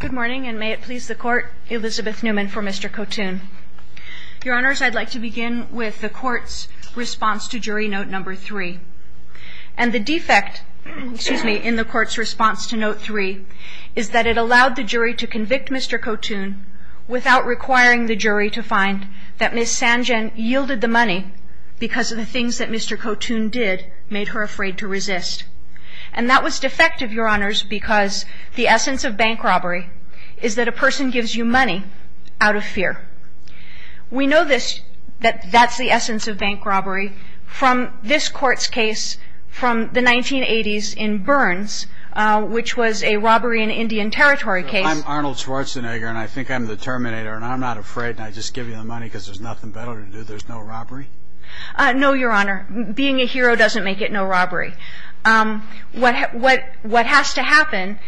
Good morning and may it please the court, Elizabeth Newman for Mr. Kotun. Your honors, I'd like to begin with the court's response to jury note number three. And the defect, excuse me, in the court's response to note three is that it allowed the jury to convict Mr. Kotun without requiring the jury to find that Ms. Sanjen yielded the money because of the things that Mr. Kotun did made her afraid to resist. And that was defective, your honors, because the essence of bank robbery is that a person gives you money out of fear. We know that that's the essence of bank robbery from this court's case from the 1980s in Burns, which was a robbery in Indian Territory case. I'm Arnold Schwarzenegger and I think I'm the terminator and I'm not afraid and I just give you the money because there's nothing better to do. There's no robbery? No, your honor. Being a hero doesn't make it no robbery. What has to happen,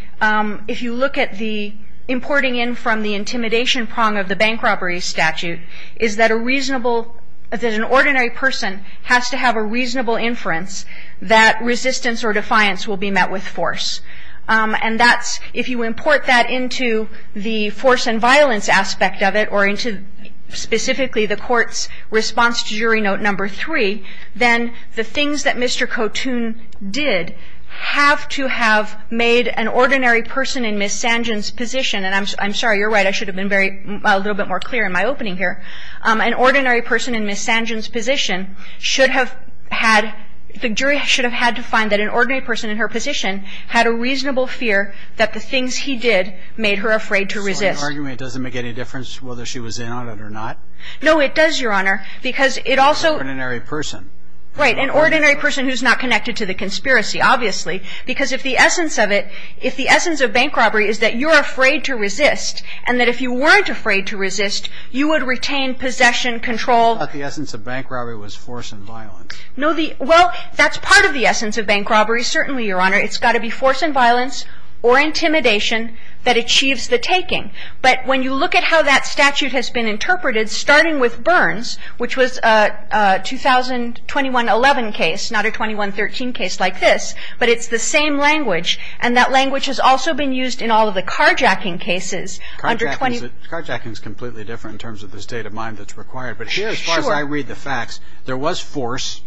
if you look at the importing in from the intimidation prong of the bank robbery statute, is that a reasonable, that an ordinary person has to have a reasonable inference that resistance or defiance will be met with force. And that's, if you import that into the force and violence aspect of it or into specifically the court's response to jury note number three, then the things that Mr. Kotun did have to have made an ordinary person in Ms. Sanjan's position, and I'm sorry, you're right, I should have been a little bit more clear in my opening here, an ordinary person in Ms. Sanjan's position should have had, the jury should have had to find that an ordinary person in her position had a reasonable fear that the things he did made her afraid to resist. So in your argument, it doesn't make any difference whether she was in on it or not? No, it does, your honor, because it also... An ordinary person. Right, an ordinary person who's not connected to the conspiracy, obviously, because if the essence of it, if the essence of bank robbery is that you're afraid to resist and that if you weren't afraid to resist, you would retain possession, control... But the essence of bank robbery was force and violence. No, the, well, that's part of the essence of bank robbery, certainly, your honor. It's got to be force and violence or intimidation that achieves the taking. But when you look at how that statute has been interpreted, starting with Burns, which was a 2021-11 case, not a 21-13 case like this, but it's the same language, and that language has also been used in all of the carjacking cases under... Carjacking is completely different in terms of the state of mind that's required. Sure. But here, as far as I read the facts, there was force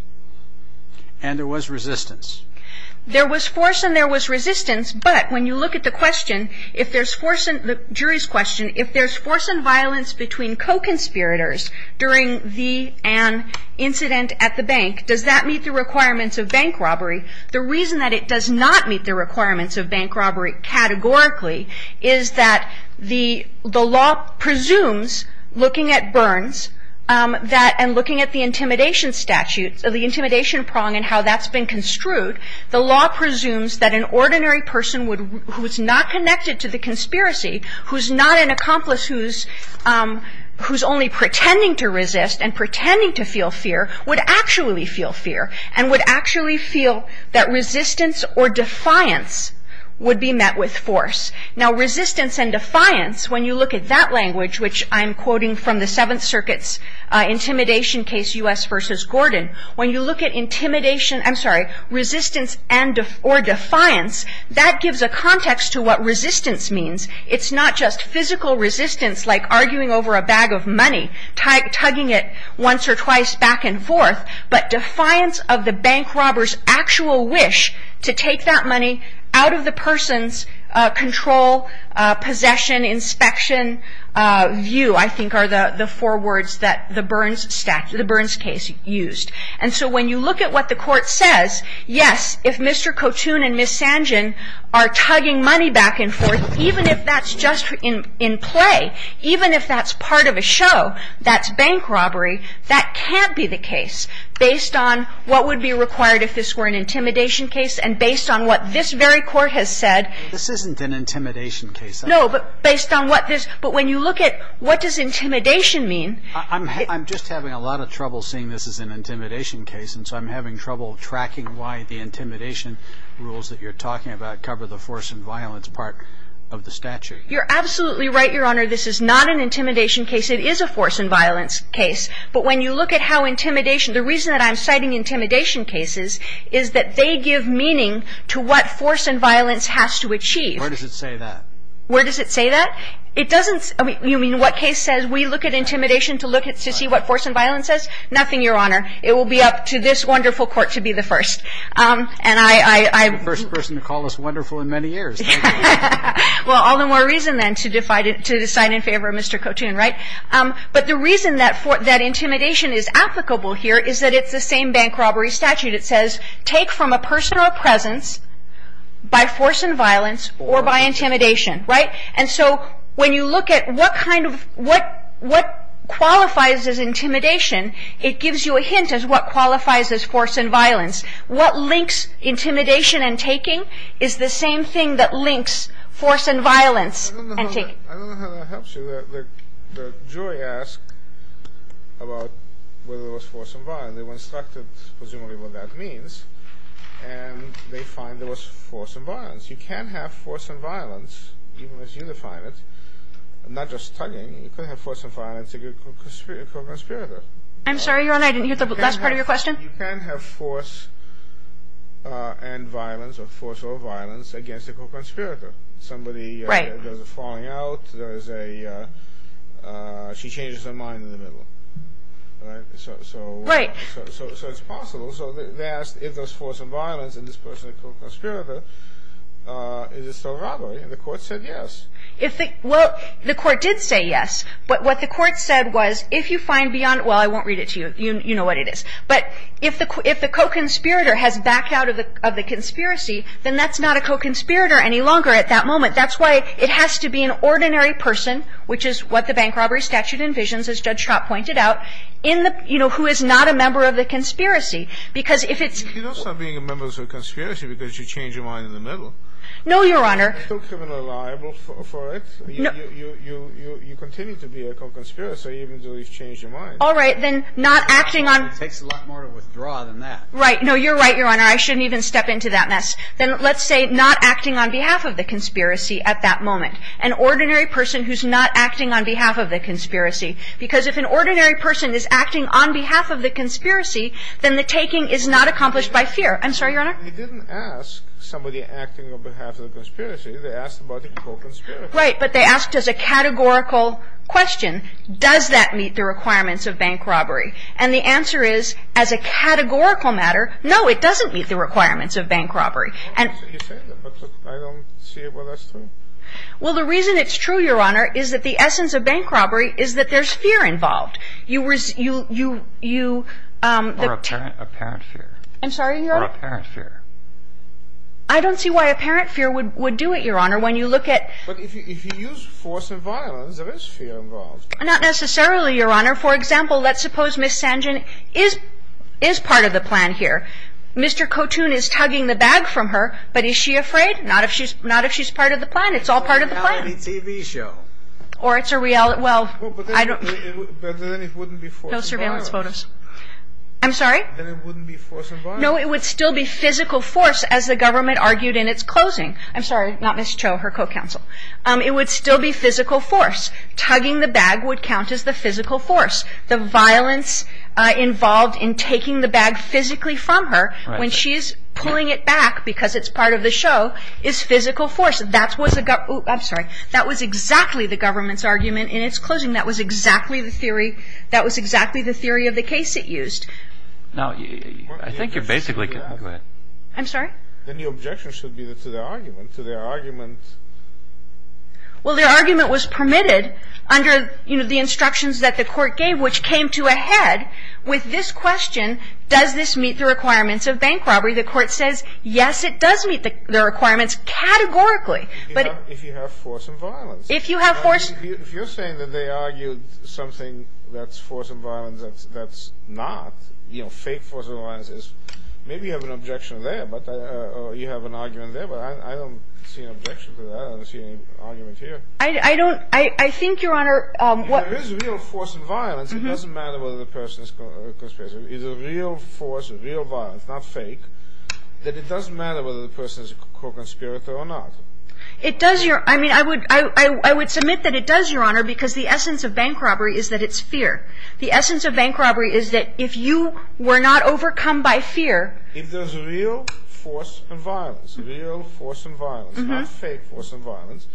and there was resistance. There was force and there was resistance, but when you look at the question, if there's force and... The jury's question, if there's force and violence between co-conspirators during the, an incident at the bank, does that meet the requirements of bank robbery? The reason that it does not meet the requirements of bank robbery categorically is that the law presumes, looking at Burns, that... And looking at the intimidation statute, the intimidation prong and how that's been construed, the law presumes that an ordinary person who's not connected to the conspiracy, who's not an accomplice, who's only pretending to resist and pretending to feel fear, would actually feel fear and would actually feel that resistance or defiance would be met with force. Now, resistance and defiance, when you look at that language, which I'm quoting from the Seventh Circuit's intimidation case, U.S. v. Gordon, when you look at intimidation, I'm sorry, resistance or defiance, that gives a context to what resistance means. It's not just physical resistance, like arguing over a bag of money, tugging it once or twice back and forth, but defiance of the bank robber's actual wish to take that money out of the person's control, possession, inspection view, I think are the four words that the Burns statute or the Burns case used. And so when you look at what the Court says, yes, if Mr. Cotoun and Ms. Sanjian are tugging money back and forth, even if that's just in play, even if that's part of a show that's bank robbery, that can't be the case, based on what would be required if this were an intimidation case and based on what this very Court has said. This isn't an intimidation case. No, but based on what this – but when you look at what does intimidation mean. I'm just having a lot of trouble seeing this as an intimidation case, and so I'm having trouble tracking why the intimidation rules that you're talking about cover the force and violence part of the statute. You're absolutely right, Your Honor. This is not an intimidation case. It is a force and violence case. But when you look at how intimidation – the reason that I'm citing intimidation cases is that they give meaning to what force and violence has to achieve. Where does it say that? Where does it say that? It doesn't – you mean what case says we look at intimidation to look at – to see what force and violence says? Nothing, Your Honor. It will be up to this wonderful Court to be the first. And I – You're the first person to call us wonderful in many years. Well, all the more reason, then, to decide in favor of Mr. Cotoun, right? But the reason that intimidation is applicable here is that it's the same bank robbery statute. It says take from a person or a presence by force and violence or by intimidation, right? And so when you look at what kind of – what qualifies as intimidation, it gives you a hint as what qualifies as force and violence. What links intimidation and taking is the same thing that links force and violence and taking. I don't know how that helps you. The jury asked about whether it was force and violence. And they were instructed, presumably, what that means. And they find it was force and violence. You can have force and violence, even as you define it, not just tugging. You can have force and violence against a co-conspirator. I'm sorry, Your Honor, I didn't hear the last part of your question. You can have force and violence or force or violence against a co-conspirator. Somebody – Right. There's a falling out. There's a – she changes her mind in the middle, right? So – Right. So it's possible. So they asked if there's force and violence in this person, a co-conspirator, is it still a robbery? And the Court said yes. If the – well, the Court did say yes. But what the Court said was if you find beyond – well, I won't read it to you. You know what it is. But if the co-conspirator has backed out of the conspiracy, then that's not a co-conspirator any longer at that moment. That's why it has to be an ordinary person, which is what the bank robbery statute envisions, as Judge Schrapp pointed out, in the – you know, who is not a member of the conspiracy. Because if it's – You don't stop being a member of the conspiracy because you change your mind in the middle. No, Your Honor. Are you still criminally liable for it? No. You continue to be a co-conspirator even though you've changed your mind. All right. Then not acting on – It takes a lot more to withdraw than that. Right. No, you're right, Your Honor. I shouldn't even step into that mess. Then let's say not acting on behalf of the conspiracy at that moment. An ordinary person who's not acting on behalf of the conspiracy. Because if an ordinary person is acting on behalf of the conspiracy, then the taking is not accomplished by fear. I'm sorry, Your Honor? You didn't ask somebody acting on behalf of the conspiracy. They asked about the co-conspirator. Right. But they asked as a categorical question, does that meet the requirements of bank robbery? And the answer is, as a categorical matter, no, it doesn't meet the requirements of bank robbery. You say that, but I don't see where that's true. Well, the reason it's true, Your Honor, is that the essence of bank robbery is that there's fear involved. You – Or apparent fear. I'm sorry, Your Honor? Or apparent fear. I don't see why apparent fear would do it, Your Honor, when you look at – But if you use force and violence, there is fear involved. Not necessarily, Your Honor. For example, let's suppose Ms. Sanjian is part of the plan here. Mr. Cotoun is tugging the bag from her, but is she afraid? Not if she's part of the plan. It's all part of the plan. It's a reality TV show. Or it's a reality – well, I don't – But then it wouldn't be force and violence. No surveillance photos. I'm sorry? Then it wouldn't be force and violence. No, it would still be physical force, as the government argued in its closing. I'm sorry, not Ms. Cho, her co-counsel. It would still be physical force. Tugging the bag would count as the physical force. The violence involved in taking the bag physically from her when she is pulling it back because it's part of the show is physical force. I'm sorry. That was exactly the government's argument in its closing. That was exactly the theory – that was exactly the theory of the case it used. Now, I think you're basically – I'm sorry? Then the objection should be to their argument. To their argument – Well, their argument was permitted under, you know, the instructions that the court gave, which came to a head with this question, does this meet the requirements of bank robbery? The court says, yes, it does meet the requirements categorically. If you have force and violence. If you have force – If you're saying that they argued something that's force and violence that's not, you know, fake force and violence, maybe you have an objection there, or you have an argument there, but I don't see an objection to that. I don't see any argument here. I don't – I think, Your Honor – If there is real force and violence, it doesn't matter whether the person is conspiring. If there is real force and real violence, not fake, then it doesn't matter whether the person is a conspirator or not. It does, Your – I mean, I would – I would submit that it does, Your Honor, because the essence of bank robbery is that it's fear. The essence of bank robbery is that if you were not overcome by fear – If there's real force and violence, real force and violence, not fake force and violence,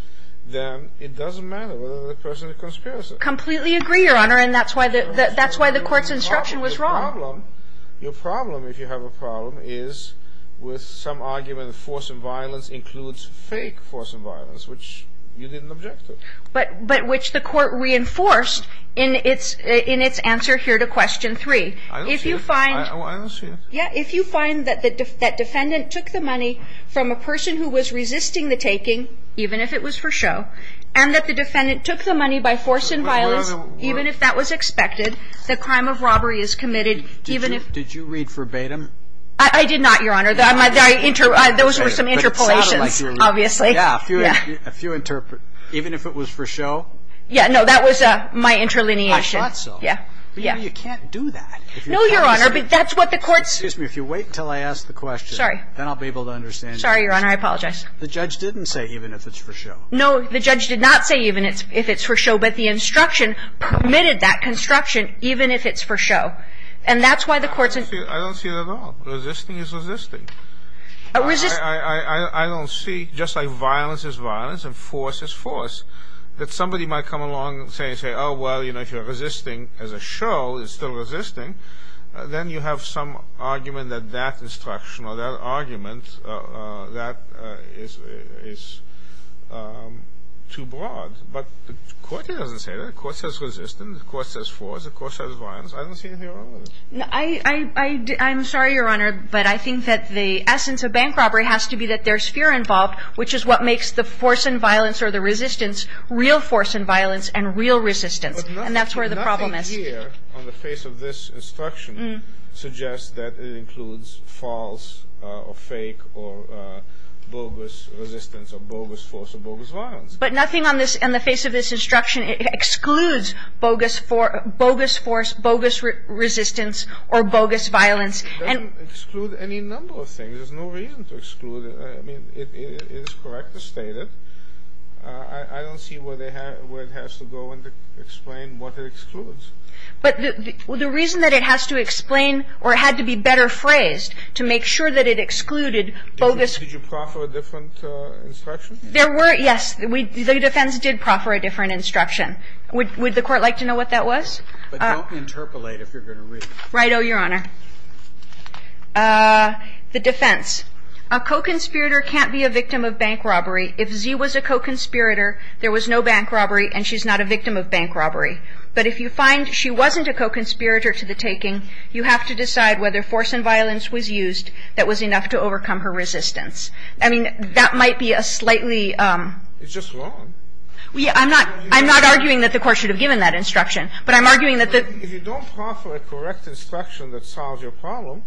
then it doesn't matter whether the person is a conspirator. Completely agree, Your Honor, and that's why the court's instruction was wrong. Your problem – your problem, if you have a problem, is with some argument that force and violence includes fake force and violence, which you didn't object to. But – but which the court reinforced in its – in its answer here to question 3. I don't see it. If you find – I don't see it. Yeah. If you find that the – that defendant took the money from a person who was resisting the taking, even if it was for show, and that the defendant took the money by force Even if that was expected, the crime of robbery is committed even if – Did you read verbatim? I did not, Your Honor. Those were some interpolations, obviously. Yeah. A few – a few – even if it was for show? Yeah. No, that was my interlineation. I thought so. Yeah. Yeah. But you can't do that. No, Your Honor, but that's what the court's – Excuse me. If you wait until I ask the question. Sorry. Then I'll be able to understand. Sorry, Your Honor. I apologize. The judge didn't say even if it's for show. No. The judge did not say even if it's for show, but the instruction permitted that construction even if it's for show. And that's why the court's – I don't see it at all. Resisting is resisting. A – I don't see, just like violence is violence and force is force, that somebody might come along and say, oh, well, you know, if you're resisting as a show, it's still resisting, then you have some argument that that instruction or that argument, that is too broad. But the court doesn't say that. The court says resistance. The court says force. The court says violence. I don't see anything wrong with it. I – I'm sorry, Your Honor, but I think that the essence of bank robbery has to be that there's fear involved, which is what makes the force and violence or the resistance real force and violence and real resistance. And that's where the problem is. But nothing here on the face of this instruction suggests that it includes false or fake or bogus resistance or bogus force or bogus violence. But nothing on this – on the face of this instruction, it excludes bogus force, bogus resistance or bogus violence. It doesn't exclude any number of things. There's no reason to exclude it. I mean, it is correctly stated. I don't see where they have – where it has to go and explain what it excludes. But the reason that it has to explain or it had to be better phrased to make sure that it excluded bogus – Did you proffer a different instruction? There were – yes. The defense did proffer a different instruction. Would the Court like to know what that was? But don't interpolate if you're going to read it. Right-o, Your Honor. The defense. A co-conspirator can't be a victim of bank robbery. If Z was a co-conspirator, there was no bank robbery and she's not a victim of bank robbery. But if you find she wasn't a co-conspirator to the taking, you have to decide whether force and violence was used that was enough to overcome her resistance. I mean, that might be a slightly – It's just wrong. I'm not – I'm not arguing that the Court should have given that instruction, but I'm arguing that the – If you don't proffer a correct instruction that solves your problem,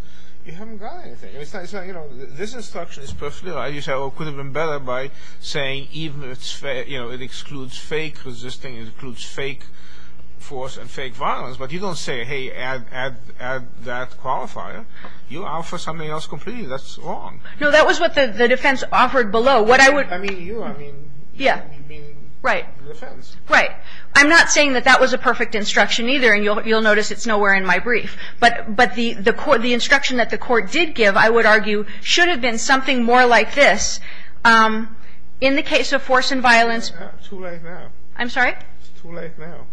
you haven't got anything. It's not – you know, this instruction is perfectly right. You say, well, it could have been better by saying even if it's – you know, it excludes fake resisting. It excludes fake force and fake violence. But you don't say, hey, add that qualifier. You offer something else completely. That's wrong. No, that was what the defense offered below. What I would – I mean you. I mean – Yeah. Right. The defense. Right. I'm not saying that that was a perfect instruction either, and you'll notice it's nowhere in my brief. But the instruction that the Court did give, I would argue, should have been something more like this. In the case of force and violence – Too late now. I'm sorry? It's too late now.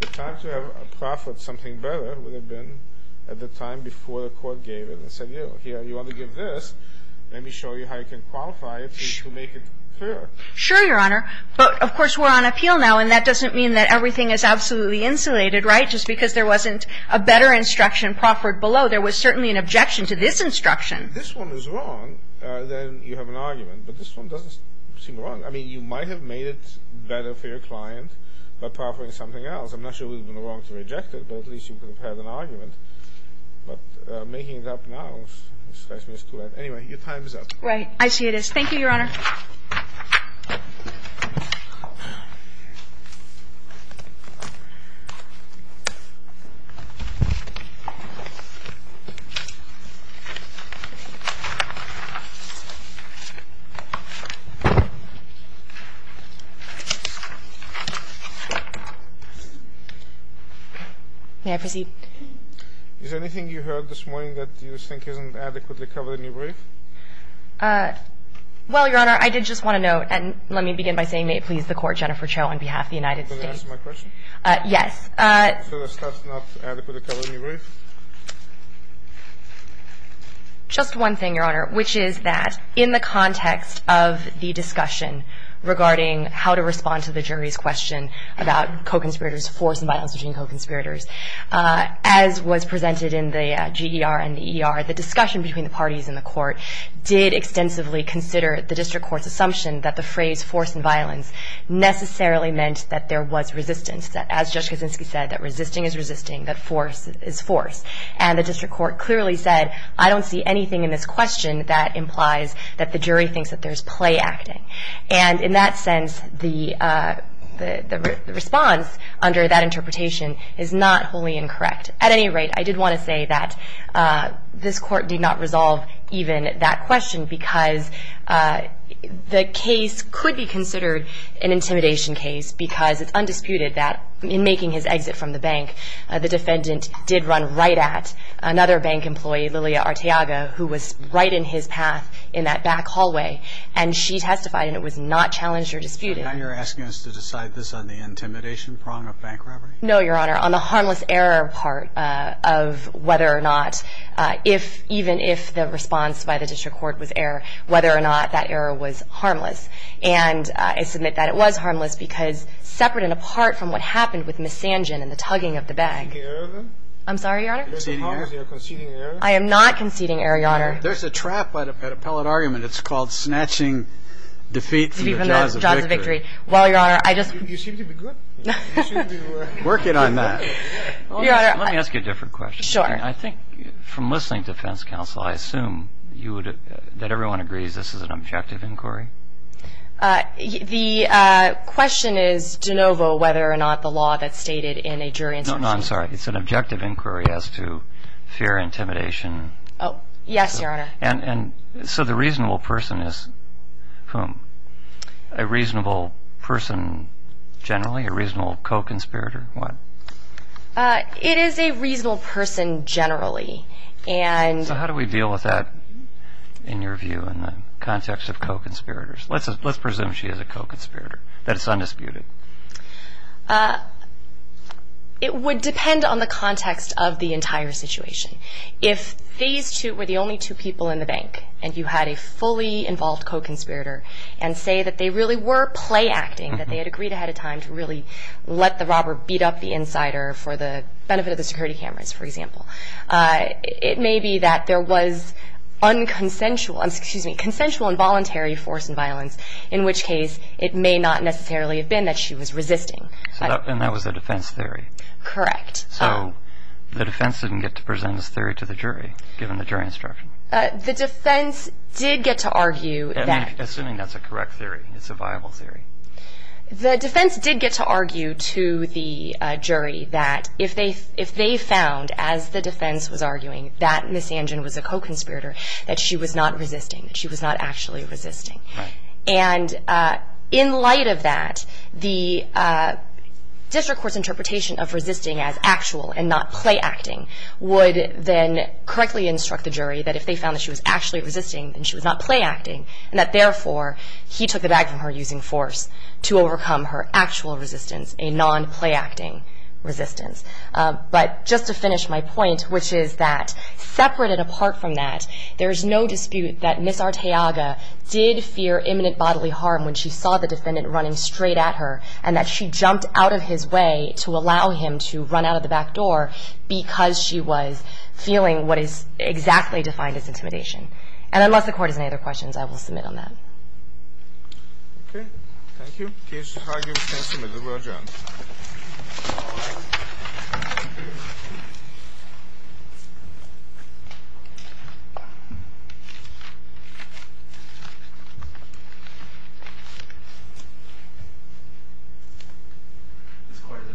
The time to have proffered something better would have been at the time before the Court gave it and said, you know, here, you ought to give this. Let me show you how you can qualify it to make it clear. Sure, Your Honor. But, of course, we're on appeal now, and that doesn't mean that everything is absolutely insulated, right, just because there wasn't a better instruction proffered below. There was certainly an objection to this instruction. If this one was wrong, then you have an argument. But this one doesn't seem wrong. I mean, you might have made it better for your client by proffering something else. I'm not sure it would have been wrong to reject it, but at least you could have had an argument. But making it up now, it strikes me as too late. Anyway, your time is up. Right. I see it is. Thank you, Your Honor. May I proceed? Is there anything you heard this morning that you think isn't adequately covered in your brief? Well, Your Honor, I did just want to note, and let me begin by saying may it please the Court, Jennifer Cho on behalf of the United States. Are you going to answer my question? Yes. So the stuff is not adequately covered in your brief? Just one thing, Your Honor, which is that in the context of the discussion regarding how to respond to the jury's question about co-conspirators' force and violence between co-conspirators, as was presented in the GER and the ER, the discussion between the parties in the Court did extensively consider the District Court's assumption that the phrase force and violence necessarily meant that there was resistance, as Judge Kaczynski said, that resisting is resisting, that force is force. And the District Court clearly said, I don't see anything in this question that implies that the jury thinks that there's play acting. And in that sense, the response under that interpretation is not wholly incorrect. At any rate, I did want to say that this Court did not resolve even that question because the case could be considered an intimidation case because it's undisputed that in making his exit from the bank, the defendant did run right at another bank employee, Lilia Arteaga, who was right in his path in that back hallway, and she testified and it was not challenged or disputed. So now you're asking us to decide this on the intimidation prong of bank robbery? No, Your Honor. On the harmless error part of whether or not, if even if the response by the District Court was error, whether or not that error was harmless. And I submit that it was harmless because separate and apart from what happened with Ms. Sangin and the tugging of the bag. Are you conceding error, then? I'm sorry, Your Honor? Are you conceding error? Are you conceding error? I am not conceding error, Your Honor. There's a trap by the appellate argument. It's called snatching defeat from the jaws of victory. From the jaws of victory. Well, Your Honor, I just You seem to be good. Working on that. Your Honor. Let me ask you a different question. Sure. I think from listening to defense counsel, I assume you would, that everyone agrees this is an objective inquiry? The question is de novo whether or not the law that's stated in a jury No, no, I'm sorry. It's an objective inquiry as to fear, intimidation. Oh, yes, Your Honor. And so the reasonable person is whom? A reasonable person generally? A reasonable co-conspirator? What? It is a reasonable person generally. So how do we deal with that in your view in the context of co-conspirators? Let's presume she is a co-conspirator, that it's undisputed. It would depend on the context of the entire situation. If these two were the only two people in the bank and you had a fully involved co-conspirator and say that they really were play acting, that they had agreed ahead of time to really let the robber beat up the insider for the benefit of the security cameras, for example, it may be that there was unconsensual, excuse me, consensual and voluntary force and violence, in which case it may not necessarily have been that she was resisting. And that was the defense theory? Correct. So the defense didn't get to present this theory to the jury, given the jury instruction? The defense did get to argue that. Assuming that's a correct theory, it's a viable theory. The defense did get to argue to the jury that if they found, as the defense was arguing, that Ms. Angin was a co-conspirator, that she was not resisting, that she was not actually resisting. Right. And in light of that, the district court's interpretation of resisting as actual and not play acting would then correctly instruct the jury that if they found that she was actually resisting, then she was not play acting, and that, therefore, he took the bag from her using force to overcome her actual resistance, a non-play acting resistance. But just to finish my point, which is that, separated apart from that, there is no dispute that Ms. Arteaga did fear imminent bodily harm when she saw the defendant running straight at her, and that she jumped out of his way to allow him to run out of the back door because she was feeling what is exactly defined as intimidation. And unless the Court has any other questions, I will submit on that. Okay. Thank you. Case argued and submitted. We're adjourned. All rise. This court is adjourned.